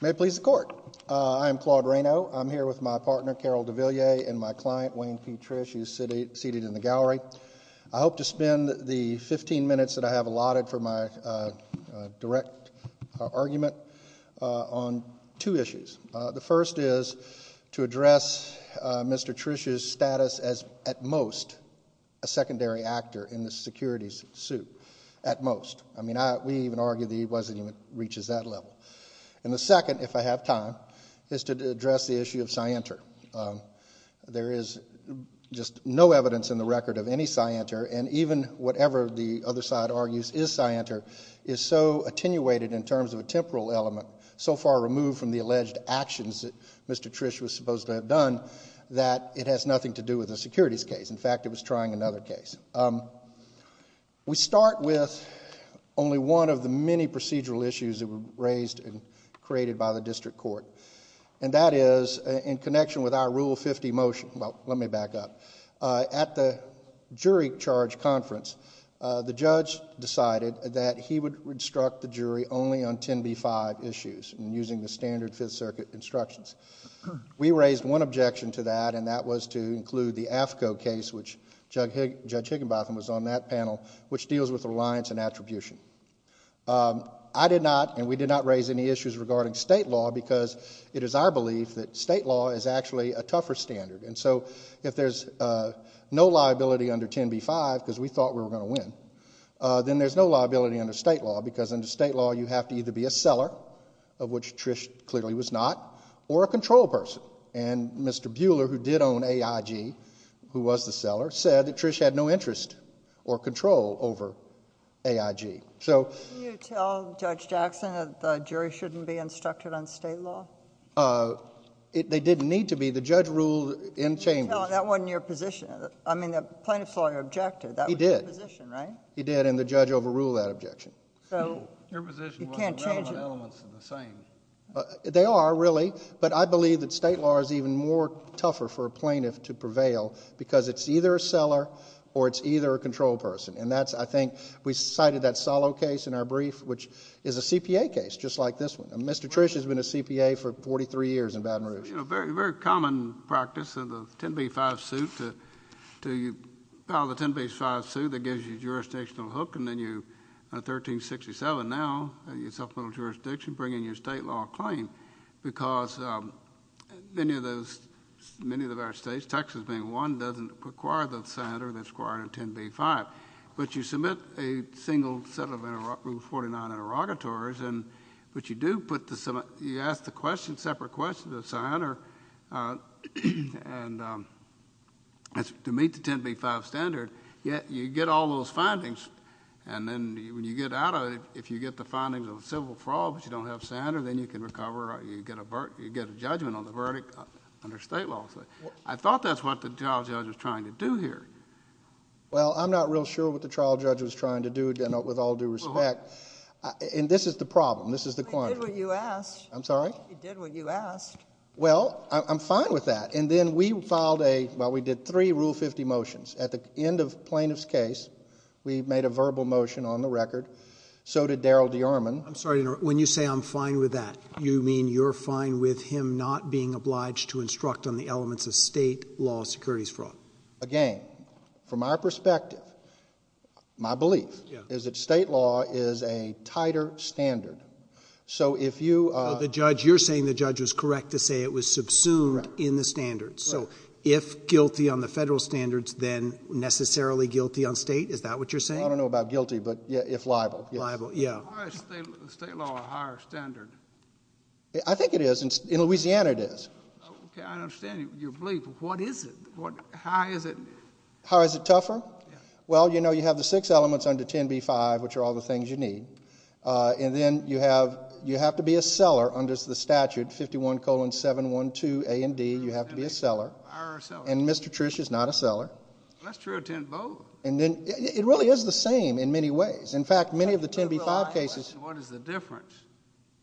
May it please the court, I'm Claude Raynaud, I'm here with my partner Carol DeVilliers and my client Wayne P. Trish who is seated in the gallery. I hope to spend the 15 minutes that I have allotted for my direct argument on two issues. The first is to address Mr. Trish's status as at most a secondary actor in the securities suit, at most. I mean we even argue that he wasn't even reaches that level. And the second, if I have time, is to address the issue of scienter. There is just no evidence in the record of any scienter and even whatever the other side argues is scienter is so attenuated in terms of a temporal element, so far removed from the alleged actions that Mr. Trish was supposed to have done that it has nothing to do with the securities case. In fact, it was trying another case. We start with only one of the many procedural issues that were raised and created by the district court. And that is in connection with our Rule 50 motion. Well, let me back up. At the jury charge conference, the judge decided that he would instruct the jury only on 10B-5 issues and using the standard Fifth Circuit instructions. We raised one objection to that and that was to include the AFCO case, which Judge Higginbotham was on that panel, which deals with reliance and attribution. I did not and we did not raise any issues regarding state law because it is our belief that state law is actually a tougher standard. And so if there is no liability under 10B-5, because we thought we were going to win, then there is no liability under state law because under state law you have to either be a seller, of which Trish clearly was not, or a control person. And Mr. Buehler, who did own AIG, who was the seller, said that Trish had no interest or control over AIG. Can you tell Judge Jackson that the jury should not be instructed on state law? They didn't need to be. The judge ruled in Chambers. That wasn't your position. I mean, the plaintiff saw your objection. He did. That was your position, right? He did, and the judge overruled that objection. So you can't change it. They are, really, but I believe that state law is even more tougher for a plaintiff to prevail because it's either a seller or it's either a control person. And that's, I think, we cited that Solow case in our brief, which is a CPA case, just like this one. Mr. Trish has been a CPA for 43 years in Baton Rouge. Very common practice in the 10b-5 suit to file the 10b-5 suit that gives you a jurisdictional hook, and then you, in 1367 now, in supplemental jurisdiction, bring in your state law claim because many of our states, Texas being one, doesn't require the senator that's required in 10b-5. But you submit a single set of Rule 49 interrogatories, but you do put the, you ask the question, separate question to the senator to meet the 10b-5 standard. Yet you get all those findings, and then when you get out of it, if you get the findings of civil fraud but you don't have a senator, then you can recover, you get a judgment on the verdict under state law. I thought that's what the trial judge was trying to do here. Well, I'm not real sure what the trial judge was trying to do, with all due respect. And this is the problem. This is the quantity. He did what you asked. I'm sorry? He did what you asked. Well, I'm fine with that. And then we filed a, well, we did three Rule 50 motions. At the end of plaintiff's case, we made a verbal motion on the record. So did Daryl DeArmond. I'm sorry, when you say I'm fine with that, you mean you're fine with him not being obliged to instruct on the elements of state law securities fraud? Again, from our perspective, my belief is that state law is a tighter standard. So if you... The judge, you're saying the judge was correct to say it was subsumed in the standards. So if guilty on the federal standards, then necessarily guilty on state? Is that what you're saying? I don't know about guilty, but if liable, yes. Why is state law a higher standard? I think it is. In Louisiana, it is. Okay, I understand your belief, but what is it? How is it... How is it tougher? Well, you know, you have the six elements under 10b-5, which are all the things you need. And then you have to be a seller under the statute 51-712-A and D. You have to be a seller. And Mr. Trish is not a seller. That's true of 10 both. It really is the same in many ways. In fact, many of the 10b-5 cases... What is the difference?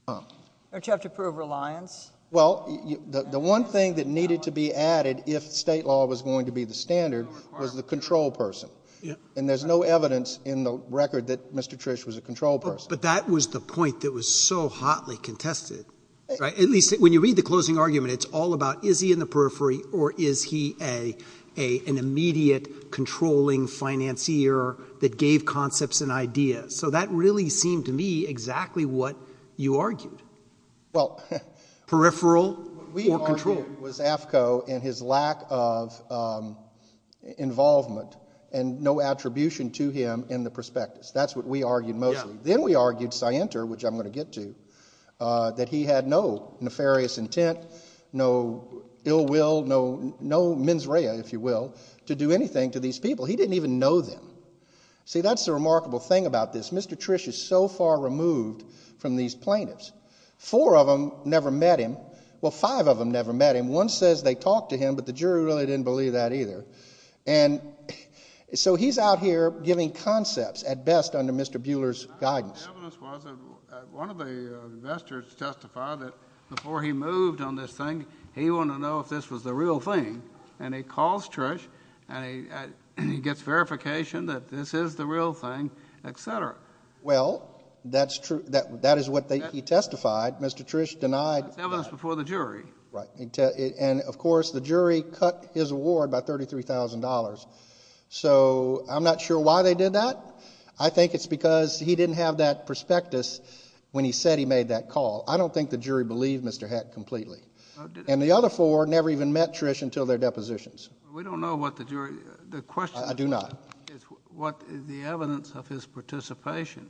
Don't you have to prove reliance? Well, the one thing that needed to be added if state law was going to be the standard was the control person. And there's no evidence in the record that Mr. Trish was a control person. But that was the point that was so hotly contested. At least when you read the closing argument, it's all about is he in the periphery or is he an immediate controlling financier that gave concepts and ideas? So that really seemed to me exactly what you argued. Well... Peripheral or control? What we argued was AFCO and his lack of involvement and no attribution to him in the prospectus. That's what we argued mostly. Then we argued Sienter, which I'm going to get to, that he had no nefarious intent, no ill will, no mens rea, if you will, to do anything to these people. He didn't even know them. See, that's the remarkable thing about this. Mr. Trish is so far removed from these plaintiffs. Four of them never met him. Well, five of them never met him. One says they talked to him, but the jury really didn't believe that either. And so he's out here giving concepts at best under Mr. Buehler's guidance. The evidence was that one of the investors testified that before he moved on this thing, he wanted to know if this was the real thing. And he calls Trish, and he gets verification that this is the real thing, et cetera. Well, that is what he testified. Mr. Trish denied... That's evidence before the jury. Right. And, of course, the jury cut his award by $33,000. So I'm not sure why they did that. I think it's because he didn't have that prospectus when he said he made that call. I don't think the jury believed Mr. Heck completely. And the other four never even met Trish until their depositions. We don't know what the jury... I do not. The evidence of his participation...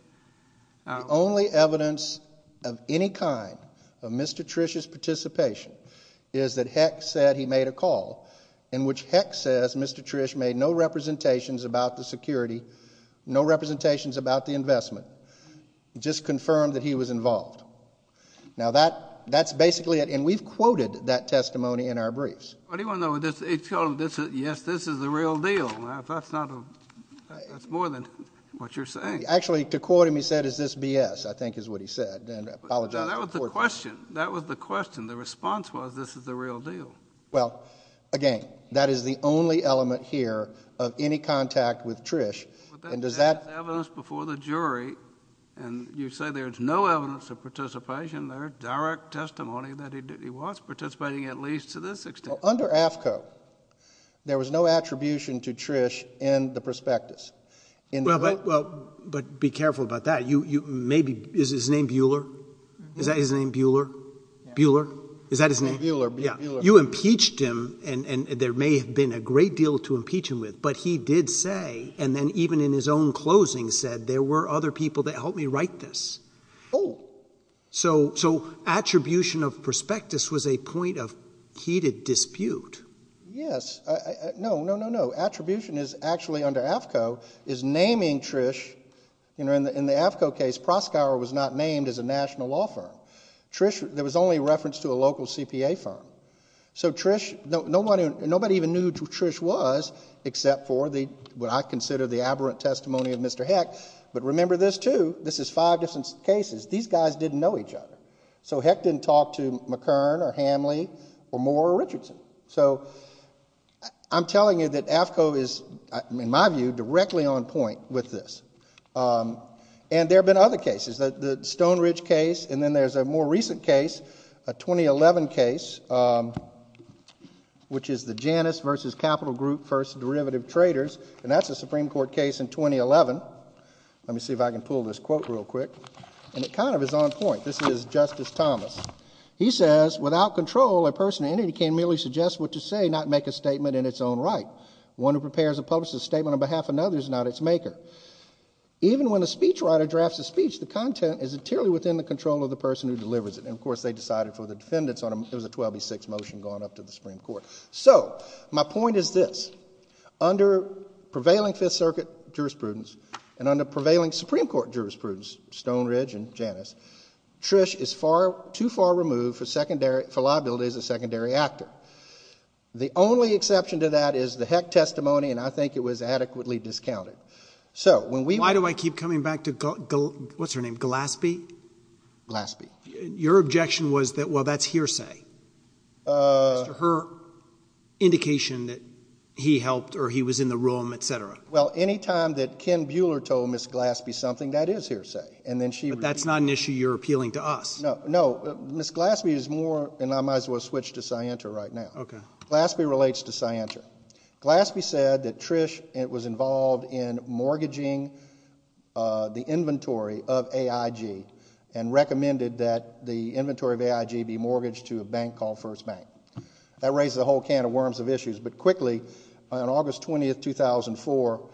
The only evidence of any kind of Mr. Trish's participation is that Heck said he made a call, in which Heck says Mr. Trish made no representations about the security, no representations about the investment, just confirmed that he was involved. Now, that's basically it. And we've quoted that testimony in our briefs. What do you want to know? He told him, yes, this is the real deal. That's more than what you're saying. Actually, to quote him, he said, is this B.S.? I think is what he said. And I apologize... That was the question. That was the question. The response was, this is the real deal. Well, again, that is the only element here of any contact with Trish. And does that... And you say there's no evidence of participation there, direct testimony that he was participating at least to this extent. Under AAFCO, there was no attribution to Trish in the prospectus. Well, but be careful about that. Maybe... is his name Bueller? Is that his name, Bueller? Bueller? Is that his name? Bueller. You impeached him, and there may have been a great deal to impeach him with, but he did say, and then even in his own closing said, there were other people that helped me write this. Oh. So, attribution of prospectus was a point of heated dispute. Yes. No, no, no, no. Attribution is actually under AAFCO, is naming Trish. In the AAFCO case, Proskauer was not named as a national law firm. Trish, there was only reference to a local CPA firm. So Trish... nobody even knew who Trish was, except for what I consider the aberrant testimony of Mr. Heck. But remember this, too. This is five different cases. These guys didn't know each other. So Heck didn't talk to McKern or Hamley or Moore or Richardson. So, I'm telling you that AAFCO is, in my view, directly on point with this. And there have been other cases. The Stone Ridge case, and then there's a more recent case, a 2011 case, which is the Janus v. Capital Group v. Derivative Traders. And that's a Supreme Court case in 2011. Let me see if I can pull this quote real quick. And it kind of is on point. This is Justice Thomas. He says, without control, a person in any case merely suggests what to say, not make a statement in its own right. One who prepares a publicist's statement on behalf of another is not its maker. Even when a speechwriter drafts a speech, the content is entirely within the control of the person who delivers it. And, of course, they decided for the defendants. It was a 12 v. 6 motion going up to the Supreme Court. So, my point is this. Under prevailing Fifth Circuit jurisprudence and under prevailing Supreme Court jurisprudence, Stone Ridge and Janus, Trish is too far removed for liability as a secondary actor. The only exception to that is the Heck testimony, and I think it was adequately discounted. Why do I keep coming back to, what's her name, Glaspie? Glaspie. Your objection was that, well, that's hearsay. Her indication that he helped or he was in the room, et cetera. Well, any time that Ken Buehler told Ms. Glaspie something, that is hearsay. But that's not an issue you're appealing to us. No. Ms. Glaspie is more, and I might as well switch to Scienter right now. Glaspie relates to Scienter. Glaspie said that Trish was involved in mortgaging the inventory of AIG and recommended that the inventory of AIG be mortgaged to a bank called First Bank. That raises a whole can of worms of issues. But quickly, on August 20, 2004,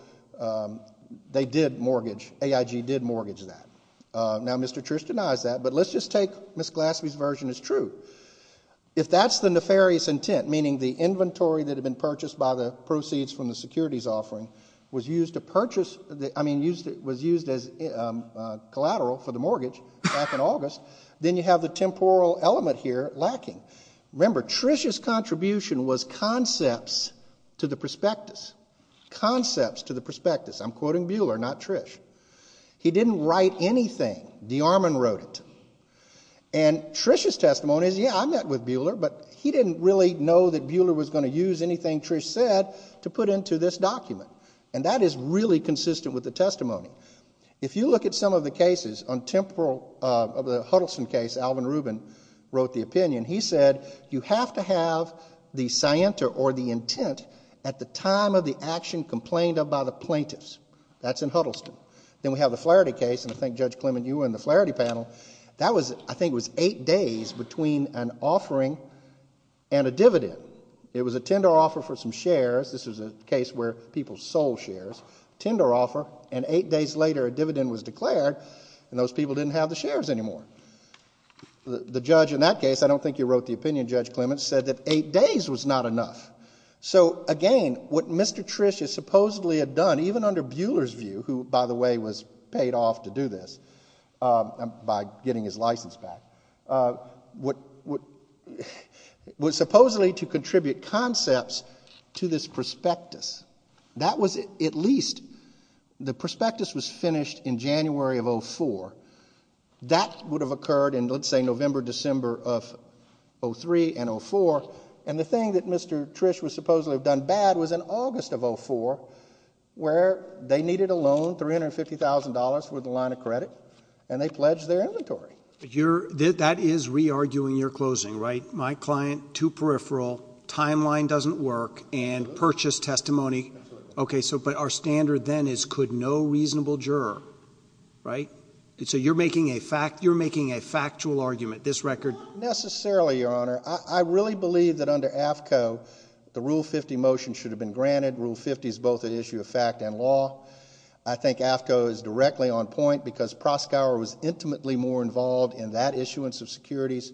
they did mortgage, AIG did mortgage that. Now, Mr. Trish denies that, but let's just take Ms. Glaspie's version as true. If that's the nefarious intent, meaning the inventory that had been purchased by the proceeds from the securities offering was used to purchase, I mean was used as collateral for the mortgage back in August, then you have the temporal element here lacking. Remember, Trish's contribution was concepts to the prospectus. Concepts to the prospectus. I'm quoting Buehler, not Trish. He didn't write anything. DeArmond wrote it. And Trish's testimony is, yeah, I met with Buehler, but he didn't really know that Buehler was going to use anything Trish said to put into this document. And that is really consistent with the testimony. If you look at some of the cases on temporal of the Huddleston case, Alvin Rubin wrote the opinion. He said, you have to have the Scienter or the intent at the time of the action complained of by the plaintiffs. That's in Huddleston. Then we have the Flaherty case, and I think, Judge Clement, you were in the Flaherty panel. I think it was eight days between an offering and a dividend. It was a tender offer for some shares. This was a case where people sold shares, tender offer, and eight days later a dividend was declared and those people didn't have the shares anymore. The judge in that case, I don't think he wrote the opinion, Judge Clement, said that eight days was not enough. So, again, what Mr. Trish supposedly had done, even under Buehler's view, who, by the way, was paid off to do this by getting his license back, was supposedly to contribute concepts to this prospectus. That was at least, the prospectus was finished in January of 2004. That would have occurred in, let's say, November, December of 2003 and 2004, and the thing that Mr. Trish would supposedly have done bad was in August of 2004 where they needed a loan, $350,000 for the line of credit, and they pledged their inventory. That is re-arguing your closing, right? My client, two peripheral, timeline doesn't work, and purchase testimony. Okay, but our standard then is could no reasonable juror, right? So you're making a factual argument, this record? Not necessarily, Your Honor. I really believe that under AFCO the Rule 50 motion should have been granted. Rule 50 is both an issue of fact and law. I think AFCO is directly on point because Proskauer was intimately more involved in that issuance of securities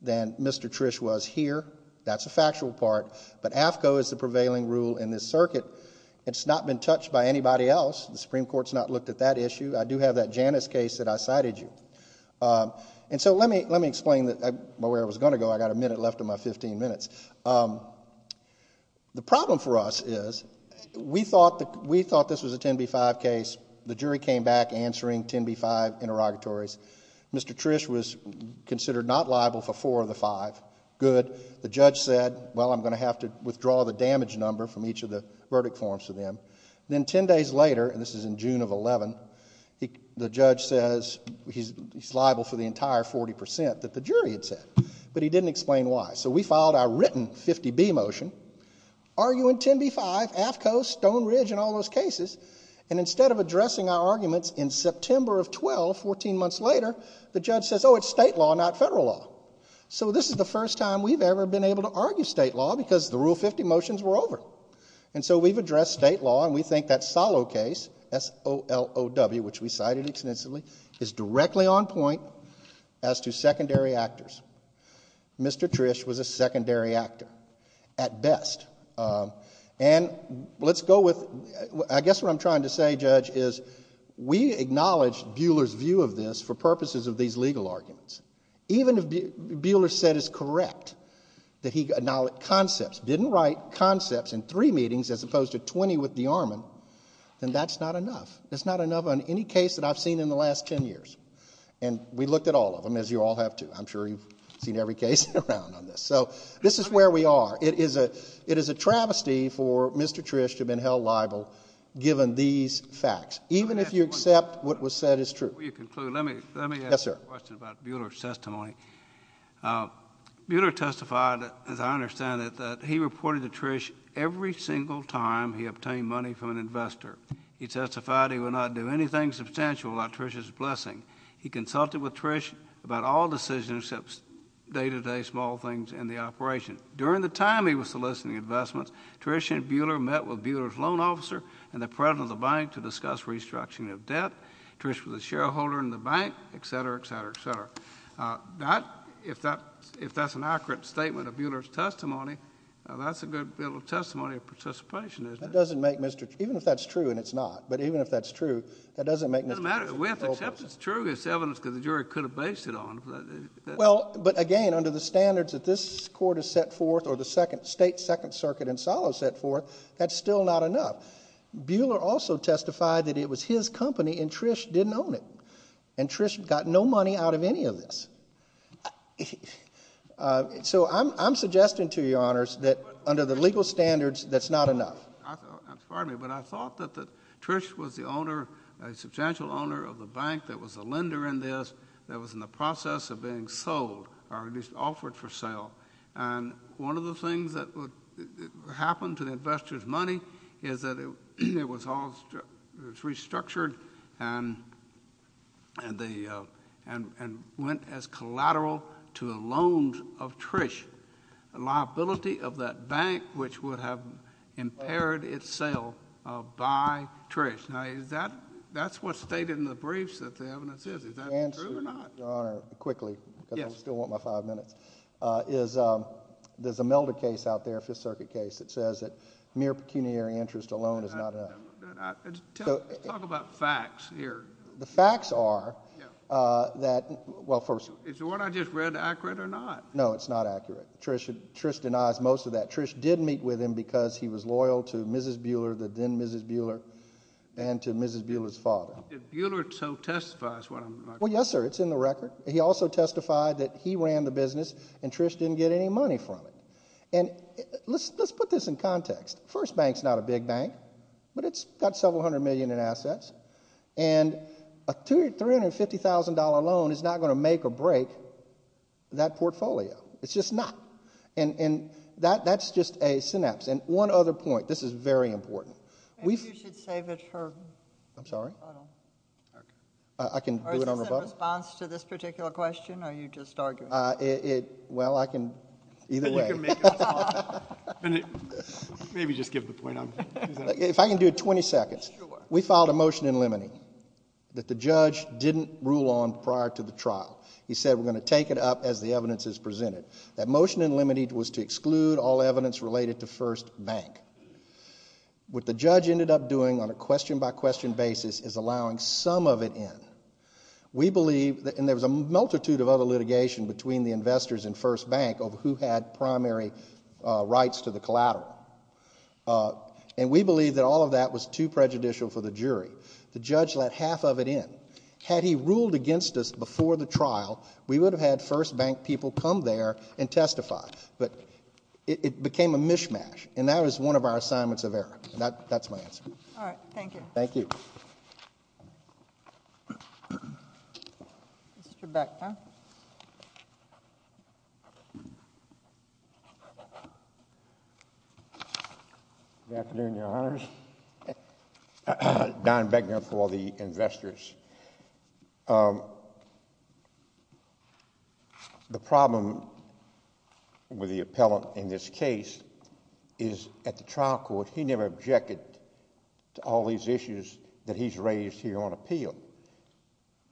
than Mr. Trish was here. That's a factual part, but AFCO is the prevailing rule in this circuit. It's not been touched by anybody else. The Supreme Court's not looked at that issue. I do have that Janus case that I cited you. And so let me explain where I was going to go. I've got a minute left of my 15 minutes. The problem for us is we thought this was a 10b-5 case. The jury came back answering 10b-5 interrogatories. Mr. Trish was considered not liable for four of the five. Good. The judge said, well, I'm going to have to withdraw the damage number from each of the verdict forms for them. Then 10 days later, and this is in June of 2011, the judge says he's liable for the entire 40% that the jury had said. But he didn't explain why. So we filed our written 50b motion, arguing 10b-5, AFCO, Stone Ridge, and all those cases. And instead of addressing our arguments in September of 12, 14 months later, the judge says, oh, it's state law, not federal law. So this is the first time we've ever been able to argue state law because the Rule 50 motions were over. And so we've addressed state law, and we think that Solow case, S-O-L-O-W, which we cited extensively, is directly on point as to secondary actors. Mr. Trish was a secondary actor at best. And let's go with, I guess what I'm trying to say, Judge, is we acknowledge Buhler's view of this for purposes of these legal arguments. Even if Buhler said it's correct that he acknowledged concepts, didn't write concepts in three meetings as opposed to 20 with the armament, then that's not enough. That's not enough on any case that I've seen in the last 10 years. And we looked at all of them, as you all have too. I'm sure you've seen every case around on this. So this is where we are. It is a travesty for Mr. Trish to have been held liable given these facts, even if you accept what was said is true. Before you conclude, let me ask a question about Buhler's testimony. Buhler testified, as I understand it, that he reported to Trish every single time he obtained money from an investor. He testified he would not do anything substantial without Trish's blessing. He consulted with Trish about all decisions except day-to-day small things in the operation. During the time he was soliciting investments, Trish and Buhler met with Buhler's loan officer and the president of the bank to discuss restructuring of debt. Trish was a shareholder in the bank, et cetera, et cetera, et cetera. If that's an accurate statement of Buhler's testimony, that's a good testimony of participation, isn't it? Even if that's true and it's not, but even if that's true, that doesn't make Mr. Trish's case hopeless. It doesn't matter. We have to accept it's true. It's evidence because the jury could have based it on it. Well, but again, under the standards that this Court has set forth or the State Second Circuit in Solow set forth, that's still not enough. Buhler also testified that it was his company and Trish didn't own it, and Trish got no money out of any of this. So I'm suggesting to Your Honors that under the legal standards, that's not enough. Pardon me, but I thought that Trish was the owner, a substantial owner of the bank that was a lender in this, that was in the process of being sold or at least offered for sale. And one of the things that would happen to the investor's money is that it was all restructured and went as collateral to the loans of Trish, a liability of that bank which would have impaired its sale by Trish. Now, that's what's stated in the briefs that the evidence is. Is that true or not? To answer, Your Honor, quickly, because I still want my five minutes, is there's a Melder case out there, Fifth Circuit case, that says that mere pecuniary interest alone is not enough. Talk about facts here. The facts are that, well, first of all. Is the one I just read accurate or not? No, it's not accurate. Trish denies most of that. Trish did meet with him because he was loyal to Mrs. Buehler, the then Mrs. Buehler, and to Mrs. Buehler's father. But Buehler so testifies what I'm saying. Well, yes, sir, it's in the record. He also testified that he ran the business and Trish didn't get any money from it. And let's put this in context. First Bank's not a big bank, but it's got several hundred million in assets, and a $350,000 loan is not going to make or break that portfolio. It's just not. And that's just a synapse. And one other point. This is very important. Maybe you should save it for the rebuttal. I'm sorry? I can do it on rebuttal. Or is this in response to this particular question or are you just arguing? Well, I can either way. Maybe just give the point. If I can do it 20 seconds. We filed a motion in limine that the judge didn't rule on prior to the trial. He said we're going to take it up as the evidence is presented. That motion in limine was to exclude all evidence related to First Bank. What the judge ended up doing on a question-by-question basis is allowing some of it in. We believe, and there was a multitude of other litigation between the investors in First Bank over who had primary rights to the collateral. And we believe that all of that was too prejudicial for the jury. The judge let half of it in. Had he ruled against us before the trial, we would have had First Bank people come there and testify. But it became a mishmash, and that was one of our assignments of error. All right, thank you. Thank you. Mr. Beckner. Good afternoon, Your Honors. Don Beckner for the investors. The problem with the appellant in this case is at the trial court, he never objected to all these issues that he's raised here on appeal.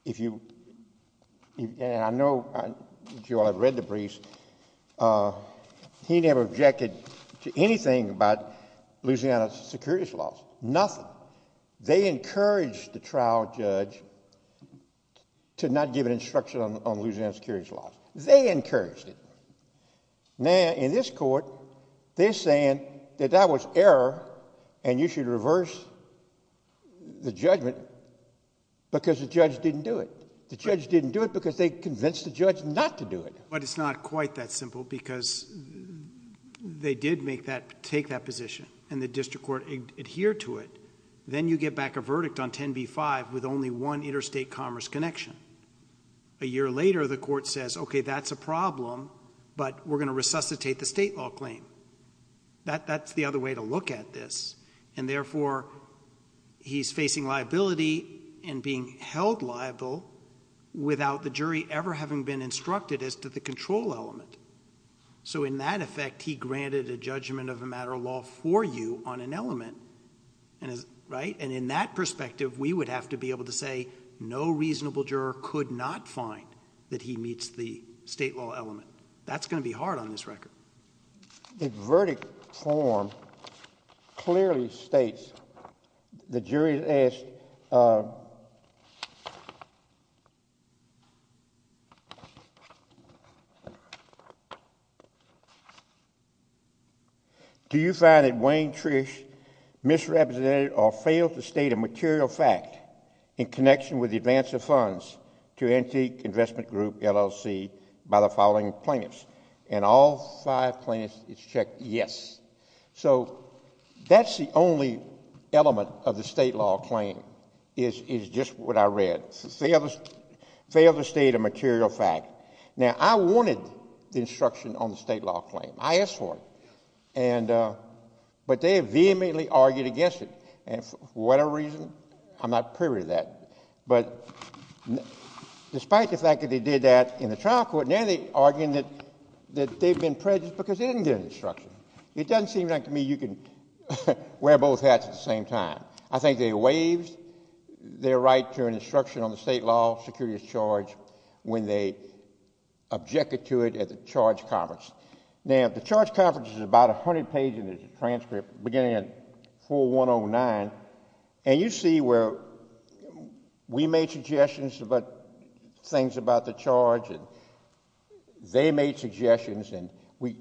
And I know, if you all have read the briefs, he never objected to anything about Louisiana securities laws, nothing. They encouraged the trial judge to not give an instruction on Louisiana securities laws. They encouraged it. Now, in this court, they're saying that that was error, and you should reverse the judgment because the judge didn't do it. The judge didn't do it because they convinced the judge not to do it. But it's not quite that simple because they did take that position, and the district court adhered to it. Then you get back a verdict on 10b-5 with only one interstate commerce connection. A year later, the court says, okay, that's a problem, but we're going to resuscitate the state law claim. That's the other way to look at this. And therefore, he's facing liability and being held liable without the jury ever having been instructed as to the control element. So in that effect, he granted a judgment of a matter of law for you on an element. Right? And in that perspective, we would have to be able to say no reasonable juror could not find that he meets the state law element. That's going to be hard on this record. The verdict form clearly states the jury has asked, Do you find that Wayne Trish misrepresented or failed to state a material fact in connection with the advance of funds to Antique Investment Group, LLC, by the following plaintiffs? And all five plaintiffs, it's checked yes. So that's the only element of the state law claim is just what I read. Failed to state a material fact. Now, I wanted the instruction on the state law claim. I asked for it. But they vehemently argued against it. And for whatever reason, I'm not privy to that. But despite the fact that they did that in the trial court, now they're arguing that they've been prejudiced because they didn't get an instruction. It doesn't seem like to me you can wear both hats at the same time. I think they waived their right to an instruction on the state law security of charge when they objected to it at the charge conference. Now, the charge conference is about 100 pages in the transcript beginning at 4109. And you see where we made suggestions about things about the charge, and they made suggestions, and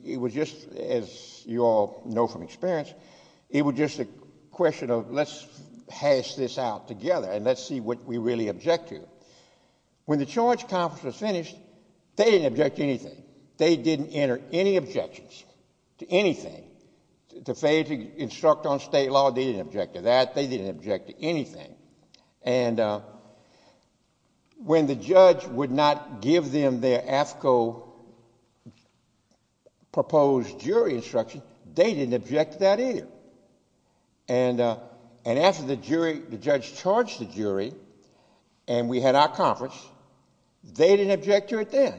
it was just, as you all know from experience, it was just a question of let's hash this out together and let's see what we really object to. When the charge conference was finished, they didn't object to anything. They didn't enter any objections to anything. To fail to instruct on state law, they didn't object to that. They didn't object to anything. And when the judge would not give them their AFCO proposed jury instruction, they didn't object to that either. And after the judge charged the jury and we had our conference, they didn't object to it then.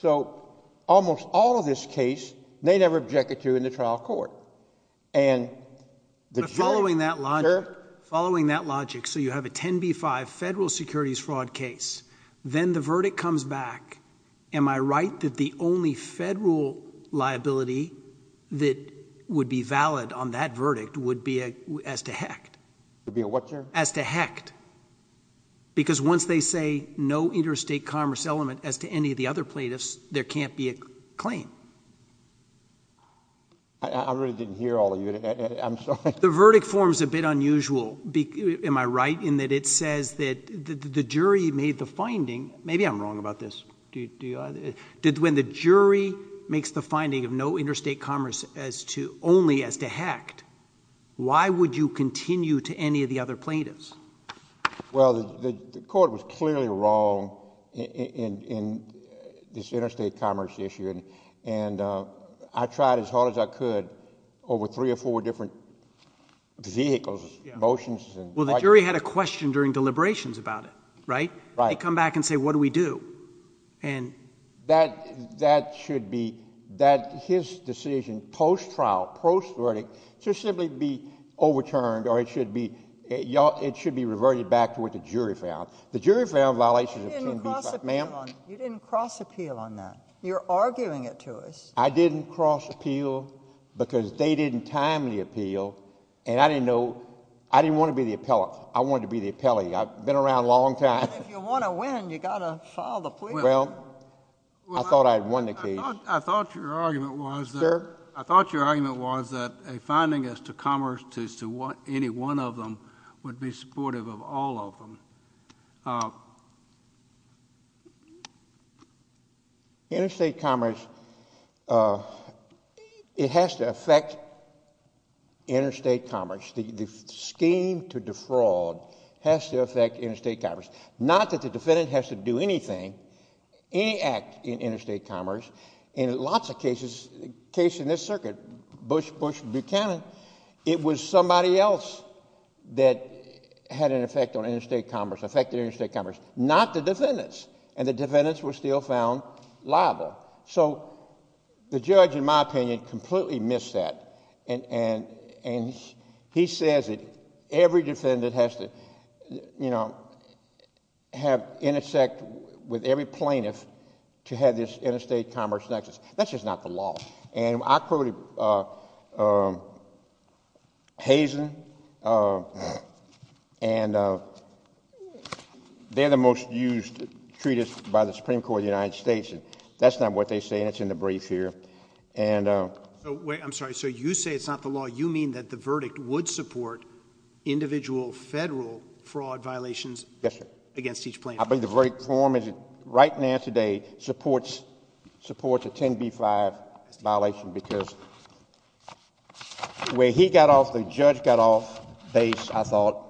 So almost all of this case, they never objected to in the trial court. And the jury... But following that logic, so you have a 10b-5 federal securities fraud case. Then the verdict comes back. Am I right that the only federal liability that would be valid on that verdict would be as to Hecht? It would be a what, Judge? As to Hecht. Because once they say no interstate commerce element as to any of the other plaintiffs, there can't be a claim. I really didn't hear all of you. I'm sorry. The verdict forms a bit unusual, am I right, in that it says that the jury made the finding... Maybe I'm wrong about this. When the jury makes the finding of no interstate commerce only as to Hecht, why would you continue to any of the other plaintiffs? Well, the court was clearly wrong in this interstate commerce issue. And I tried as hard as I could over three or four different vehicles, motions. Well, the jury had a question during deliberations about it, right? Right. They come back and say, what do we do? That should be... that his decision post-trial, post-verdict, should simply be overturned or it should be reverted back to what the jury found. The jury found violations of 10b-5... You didn't cross-appeal on that. You're arguing it to us. I didn't cross-appeal because they didn't time the appeal. And I didn't know... I didn't want to be the appellant. I wanted to be the appellee. I've been around a long time. If you want to win, you've got to solve the plea. Well, I thought I had won the case. I thought your argument was that... Sir? I thought your argument was that a finding as to commerce to any one of them would be supportive of all of them. Interstate commerce, it has to affect interstate commerce. The scheme to defraud has to affect interstate commerce. Not that the defendant has to do anything, any act in interstate commerce. In lots of cases, a case in this circuit, Bush v. Buchanan, it was somebody else that had an effect on interstate commerce, affected interstate commerce, not the defendants. And the defendants were still found liable. So the judge, in my opinion, completely missed that. And he says that every defendant has to intersect with every plaintiff to have this interstate commerce nexus. That's just not the law. And I quoted Hazen, and they're the most used treatise by the Supreme Court of the United States. That's not what they say, and it's in the brief here. Wait, I'm sorry. So you say it's not the law. You mean that the verdict would support individual federal fraud violations... Yes, sir.... against each plaintiff? I believe the verdict form right now, today, supports a 10b-5 violation because where he got off, the judge got off base, I thought,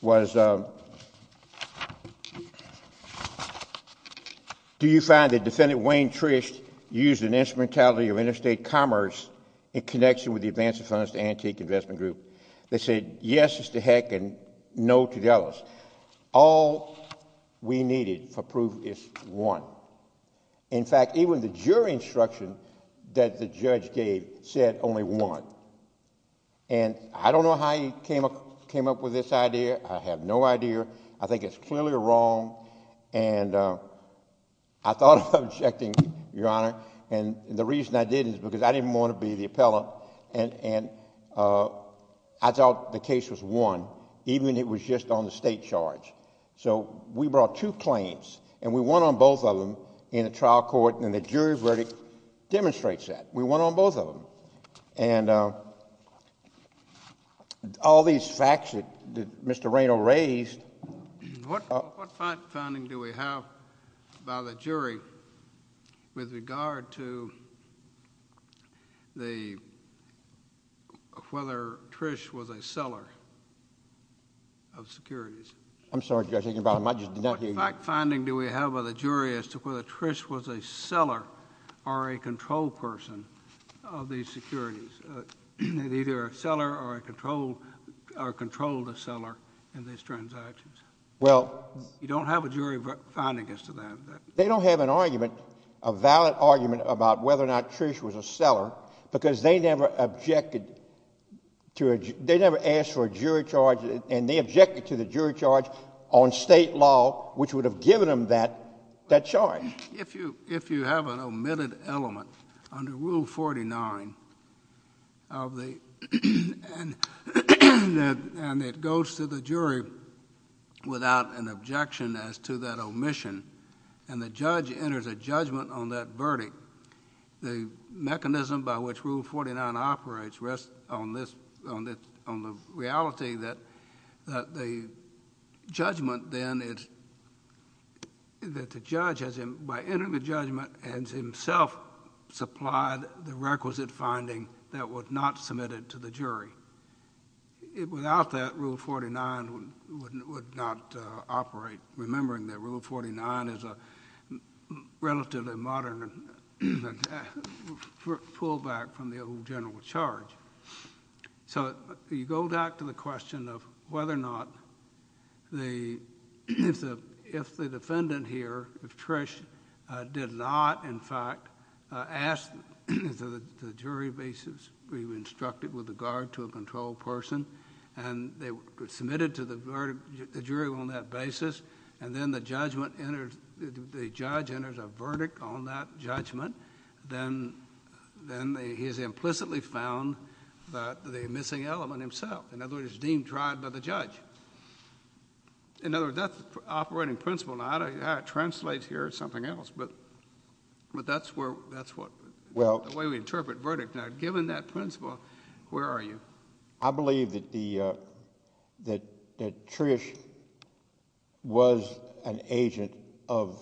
was... Do you find that Defendant Wayne Trish used an instrumentality of interstate commerce in connection with the advance of funds to Antique Investment Group? They said yes as to Heck and no to the others. All we needed for proof is one. In fact, even the jury instruction that the judge gave said only one. And I don't know how he came up with this idea. I have no idea. I think it's clearly wrong, and I thought of objecting, Your Honor. And the reason I didn't is because I didn't want to be the appellant, and I thought the case was won, even if it was just on the state charge. So we brought two claims, and we won on both of them in a trial court, and the jury verdict demonstrates that. We won on both of them. And all these facts that Mr. Raynor raised...... of whether Trish was a seller of securities... I'm sorry. You're thinking about him. I just did not hear you. What fact finding do we have of the jury as to whether Trish was a seller or a control person of these securities, either a seller or a controlled seller in these transactions? Well... You don't have a jury finding as to that. They don't have an argument, a valid argument, about whether or not Trish was a seller because they never objected to a... they never asked for a jury charge, and they objected to the jury charge on state law, which would have given them that charge. If you have an omitted element under Rule 49 of the... and it goes to the jury without an objection as to that omission, and the judge enters a judgment on that verdict, the mechanism by which Rule 49 operates rests on the reality that the judgment then is... that the judge, by entering the judgment, has himself supplied the requisite finding that was not submitted to the jury. Without that, Rule 49 would not operate, remembering that Rule 49 is a relatively modern pullback from the old general charge. So you go back to the question of whether or not the... if the defendant here, if Trish did not, in fact, ask the jury basis we instructed with regard to a controlled person, and they submitted to the jury on that basis, and then the judgment enters... the judge enters a verdict on that judgment, then he has implicitly found the missing element himself. In other words, it's deemed tried by the judge. In other words, that's the operating principle. Now, I don't know how it translates here or something else, but that's where... that's what... the way we interpret verdict. Now, given that principle, where are you? I believe that the... that Trish was an agent of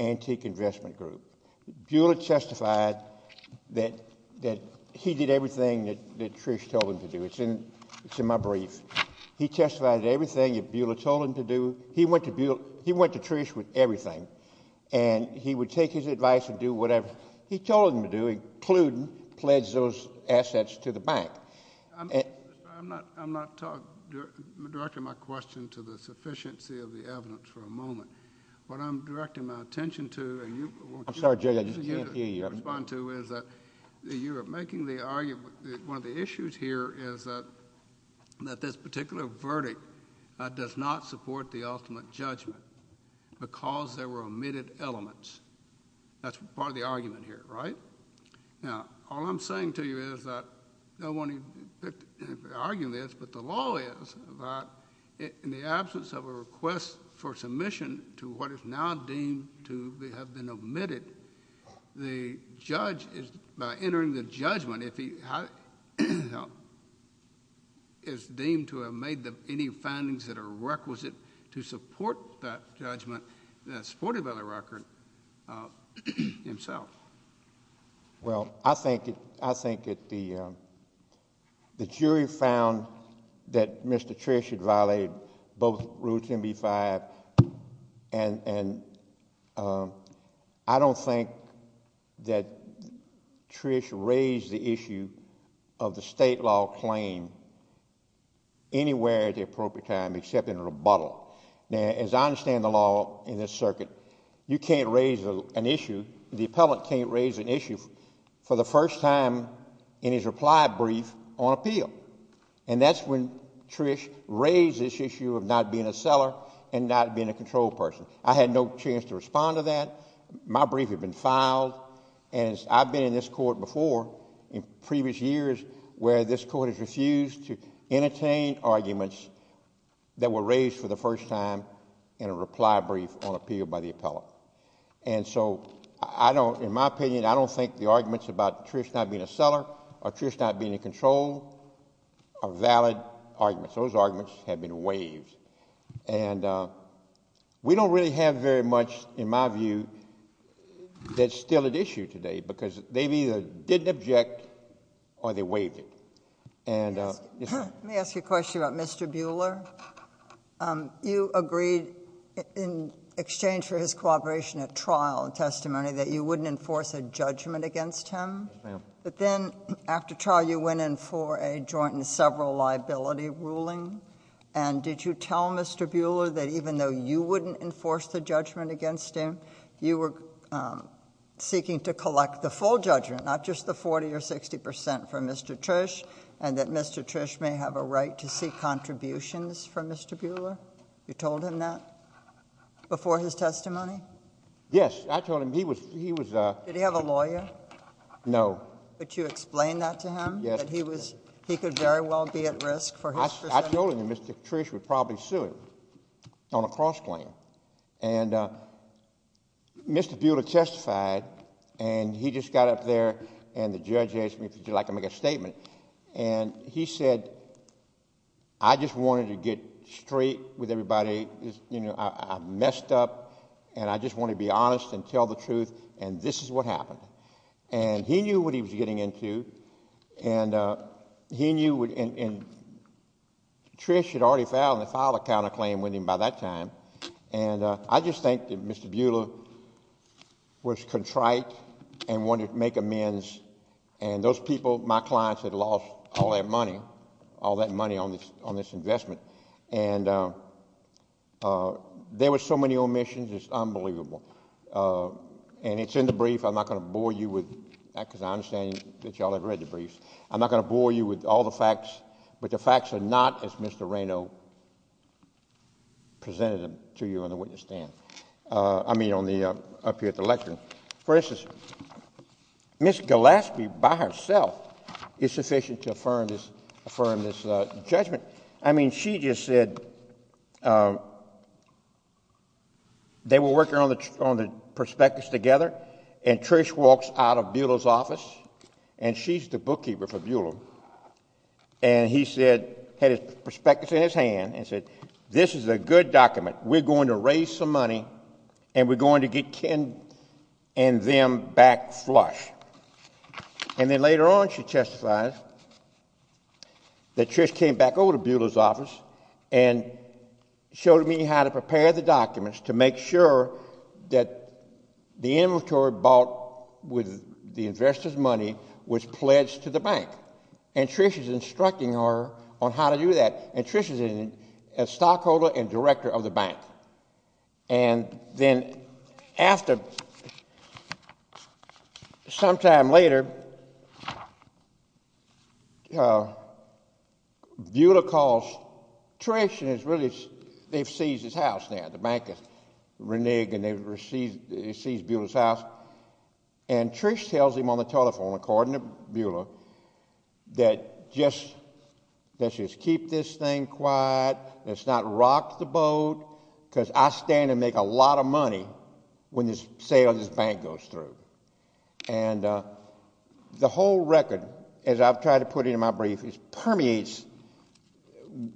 Antique Investment Group. Bueller testified that he did everything that Trish told him to do. It's in my brief. He testified to everything that Bueller told him to do. He went to Bueller... he went to Trish with everything, and he would take his advice and do whatever he told him to do, including pledge those assets to the bank. I'm not talking... directing my question to the sufficiency of the evidence for a moment. What I'm directing my attention to... I'm sorry, Judge, I just can't hear you.... is that you are making the argument... one of the issues here is that this particular verdict does not support the ultimate judgment because there were omitted elements. That's part of the argument here, right? Now, all I'm saying to you is that no one picked... argued this, but the law is that in the absence of a request for submission to what is now deemed to have been omitted, the judge is... by entering the judgment, if he... is deemed to have made any findings that are requisite to support that judgment that's supported by the record himself. Well, I think that the jury found that Mr. Trish had violated both Rules 10b-5, and I don't think that Trish raised the issue of the state law claim anywhere at the appropriate time except in a rebuttal. Now, as I understand the law in this circuit, you can't raise an issue... the appellant can't raise an issue for the first time in his reply brief on appeal, and that's when Trish raised this issue of not being a seller and not being a control person. I had no chance to respond to that. My brief had been filed, and I've been in this court before in previous years where this court has refused to entertain arguments that were raised for the first time in a reply brief on appeal by the appellant. And so I don't... in my opinion, I don't think the arguments about Trish not being a seller or Trish not being a control are valid arguments. Those arguments have been waived, and we don't really have very much, in my view, that's still at issue today because they either didn't object or they waived it. And... Let me ask you a question about Mr. Buhler. You agreed, in exchange for his cooperation at trial and testimony, that you wouldn't enforce a judgment against him. Yes, ma'am. But then after trial, you went in for a joint and several liability ruling, and did you tell Mr. Buhler that even though you wouldn't enforce the judgment against him, you were seeking to collect the full judgment, not just the 40 or 60 percent from Mr. Trish, and that Mr. Trish may have a right to seek contributions from Mr. Buhler? You told him that before his testimony? Yes. I told him he was... Did he have a lawyer? No. But you explained that to him? Yes. That he could very well be at risk for his... I told him that Mr. Trish would probably sue him on a cross-claim. And Mr. Buhler testified, and he just got up there, and the judge asked me, would you like to make a statement? And he said, I just wanted to get straight with everybody. I messed up, and I just wanted to be honest and tell the truth, and this is what happened. And he knew what he was getting into, and he knew... And I just think that Mr. Buhler was contrite and wanted to make amends, and those people, my clients, had lost all their money, all that money on this investment, and there were so many omissions, it's unbelievable. And it's in the brief. I'm not going to bore you with that because I understand that you all have read the briefs. But the facts are not as Mr. Raynaud presented them to you on the witness stand. I mean, up here at the lectern. For instance, Ms. Golaski, by herself, is sufficient to affirm this judgment. I mean, she just said... They were working on the prospectus together, and Trish walks out of Buhler's office, and she's the bookkeeper for Buhler, and he said, had his prospectus in his hand, and said, this is a good document. We're going to raise some money, and we're going to get Ken and them back flush. And then later on she testifies that Trish came back over to Buhler's office and showed me how to prepare the documents to make sure that the inventory bought with the investors' money was pledged to the bank. And Trish is instructing her on how to do that. And Trish is a stockholder and director of the bank. And then after, sometime later, Buhler calls Trish, and they've seized his house now. The bank is reneged, and they've seized Buhler's house. And Trish tells him on the telephone, according to Buhler, that just keep this thing quiet, let's not rock the boat, because I stand to make a lot of money when this sale of this bank goes through. And the whole record, as I've tried to put it in my brief, permeates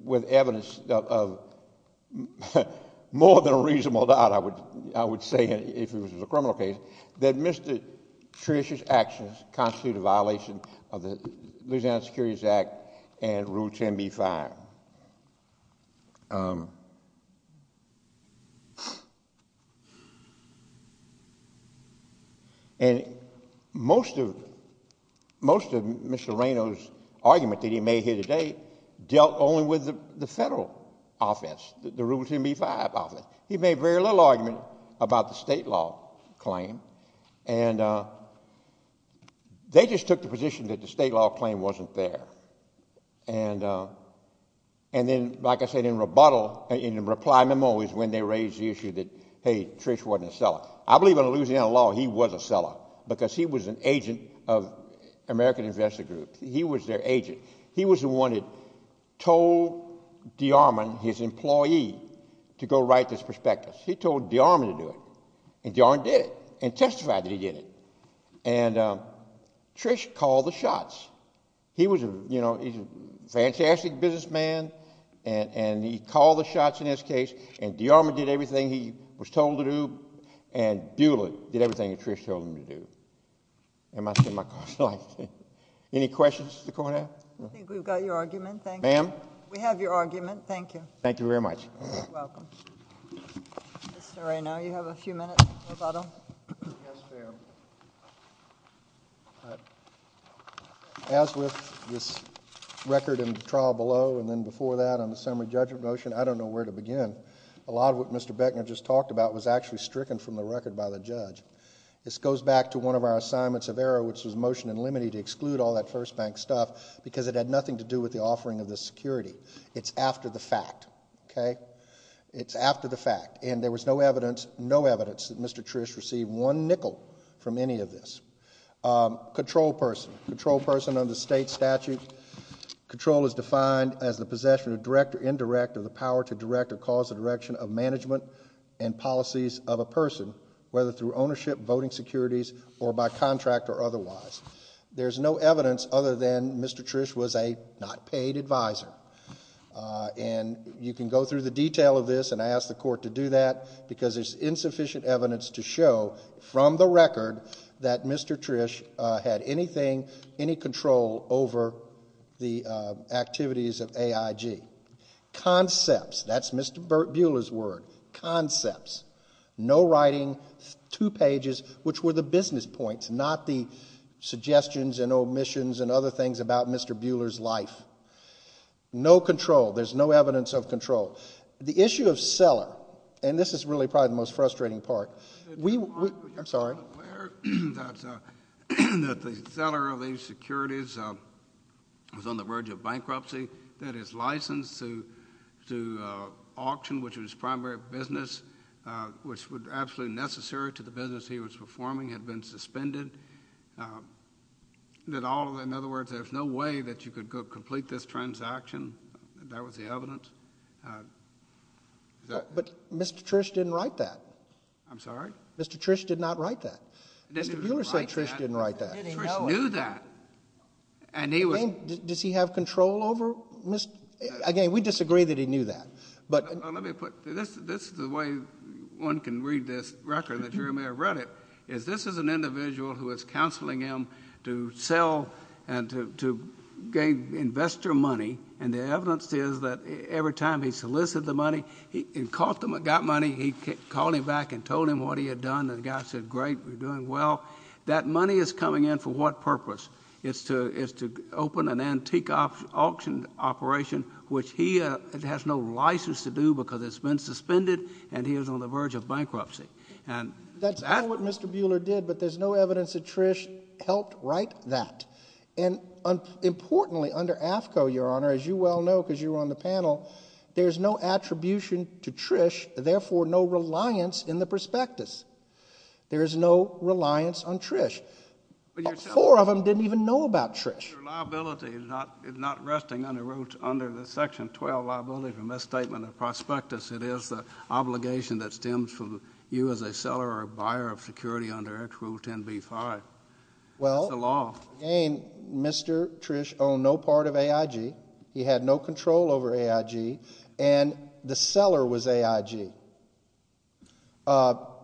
with evidence of more than a reasonable doubt, I would say, if it was a criminal case, that Mr. Trish's actions constitute a violation of the Louisiana Securities Act and Rule 10b-5. And most of Mr. Reno's argument that he made here today dealt only with the federal office, the Rule 10b-5 office. He made very little argument about the state law claim. And they just took the position that the state law claim wasn't there. And then, like I said, in rebuttal, in reply memo, is when they raised the issue that, hey, Trish wasn't a seller. I believe in Louisiana law he was a seller, because he was an agent of American Investor Group. He was their agent. He was the one that told DeArmond, his employee, to go write this prospectus. He told DeArmond to do it. And DeArmond did it, and testified that he did it. And Trish called the shots. He was a fantastic businessman, and he called the shots in this case, and DeArmond did everything he was told to do, and Beulah did everything that Trish told him to do. Am I saying my question right? Any questions, Mr. Cornell? I think we've got your argument. Thank you. Ma'am? We have your argument. Thank you. Thank you very much. You're welcome. Mr. Ray, now you have a few minutes. Yes, ma'am. As with this record in the trial below, and then before that on the summary judgment motion, I don't know where to begin. A lot of what Mr. Beckner just talked about was actually stricken from the record by the judge. This goes back to one of our assignments of error, which was motion in limine to exclude all that first bank stuff, because it had nothing to do with the offering of the security. It's after the fact. Okay? It's after the fact, and there was no evidence, no evidence that Mr. Trish received one nickel from any of this. Control person. Control person under state statute. Control is defined as the possession of direct or indirect of the power to direct or cause the direction of management and policies of a person, whether through ownership, voting securities, or by contract or otherwise. There's no evidence other than Mr. Trish was a not-paid advisor, and you can go through the detail of this, and I ask the court to do that because there's insufficient evidence to show from the record that Mr. Trish had anything, any control over the activities of AIG. Concepts. That's Mr. Bueller's word. Concepts. No writing, two pages, which were the business points, not the suggestions and omissions and other things about Mr. Bueller's life. No control. There's no evidence of control. The issue of seller, and this is really probably the most frustrating part. I'm sorry. That the seller of these securities was on the verge of bankruptcy, that his license to auction, which was his primary business, which was absolutely necessary to the business he was performing, had been suspended. In other words, there's no way that you could complete this transaction. That was the evidence. But Mr. Trish didn't write that. I'm sorry? Mr. Trish did not write that. Mr. Bueller said Trish didn't write that. Trish knew that. Does he have control over? Again, we disagree that he knew that. This is the way one can read this record, that you may have read it, is this is an individual who is counseling him to sell and to gain investor money, and the evidence is that every time he solicited the money, he got money, he called him back and told him what he had done, and the guy said, Great, you're doing well. That money is coming in for what purpose? It's to open an antique auction operation, which he has no license to do That's not what Mr. Bueller did, but there's no evidence that Trish helped write that. And importantly, under AAFCO, Your Honor, as you well know because you were on the panel, there's no attribution to Trish, therefore no reliance in the prospectus. There is no reliance on Trish. Four of them didn't even know about Trish. Your liability is not resting under the Section 12 liability for misstatement of prospectus. It is the obligation that stems from you as a seller or a buyer of security under Act Rule 10b-5. It's a law. Well, again, Mr. Trish owned no part of AIG. He had no control over AIG, and the seller was AIG.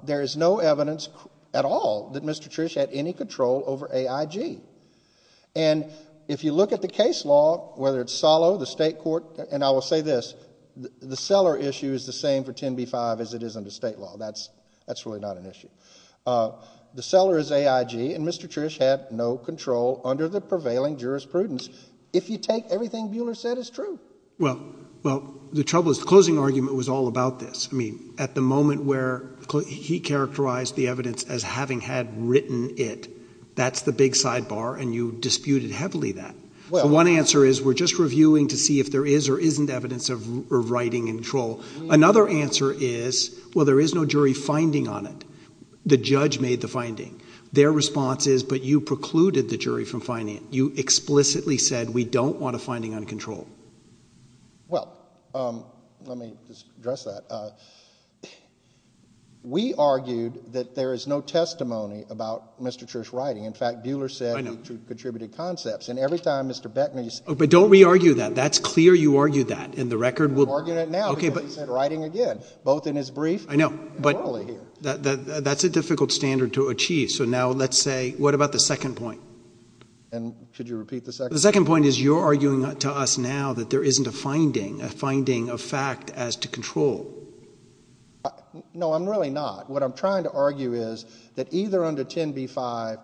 There is no evidence at all that Mr. Trish had any control over AIG. And if you look at the case law, whether it's Salo, the state court, and I will say this, the seller issue is the same for 10b-5 as it is under state law. That's really not an issue. The seller is AIG, and Mr. Trish had no control under the prevailing jurisprudence, if you take everything Bueller said as true. Well, the trouble is the closing argument was all about this. I mean, at the moment where he characterized the evidence as having had written it, that's the big sidebar, and you disputed heavily that. One answer is we're just reviewing to see if there is or isn't evidence of writing in control. Another answer is, well, there is no jury finding on it. The judge made the finding. Their response is, but you precluded the jury from finding it. You explicitly said we don't want a finding on control. Well, let me just address that. We argued that there is no testimony about Mr. Trish's writing. In fact, Bueller said he contributed concepts. And every time Mr. Beckman used to say that. But don't re-argue that. That's clear you argued that. And the record will be. I'm arguing it now because he said writing again, both in his brief and morally here. I know, but that's a difficult standard to achieve. So now let's say, what about the second point? And should you repeat the second point? The second point is you're arguing to us now that there isn't a finding, a finding of fact as to control. No, I'm really not. What I'm trying to argue is that either under 10b-5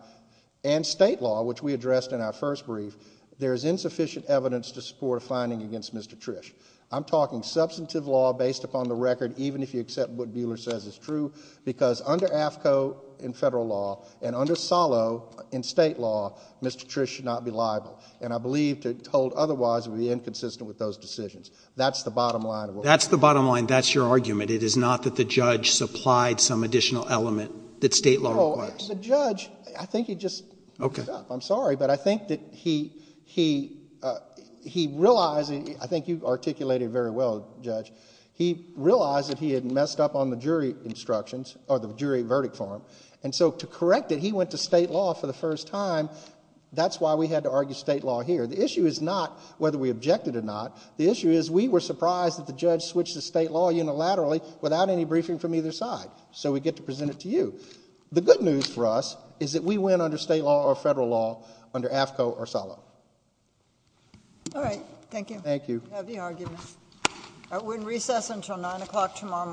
and state law, which we addressed in our first brief, there is insufficient evidence to support a finding against Mr. Trish. I'm talking substantive law based upon the record, even if you accept what Bueller says is true, because under AAFCO in federal law and under SALO in state law, Mr. Trish should not be liable. And I believe to hold otherwise would be inconsistent with those decisions. That's the bottom line. That's the bottom line. That's your argument. It is not that the judge supplied some additional element that state law requires. No, the judge, I think he just messed up. I'm sorry, but I think that he realized, I think you articulated it very well, Judge. He realized that he had messed up on the jury instructions or the jury verdict for him. And so to correct it, he went to state law for the first time. That's why we had to argue state law here. The issue is not whether we objected or not. The issue is we were surprised that the judge switched to state law unilaterally without any briefing from either side. So we get to present it to you. The good news for us is that we win under state law or federal law, under AAFCO or SALO. All right. Thank you. Thank you. Heavy argument. We'll recess until 9 o'clock tomorrow morning.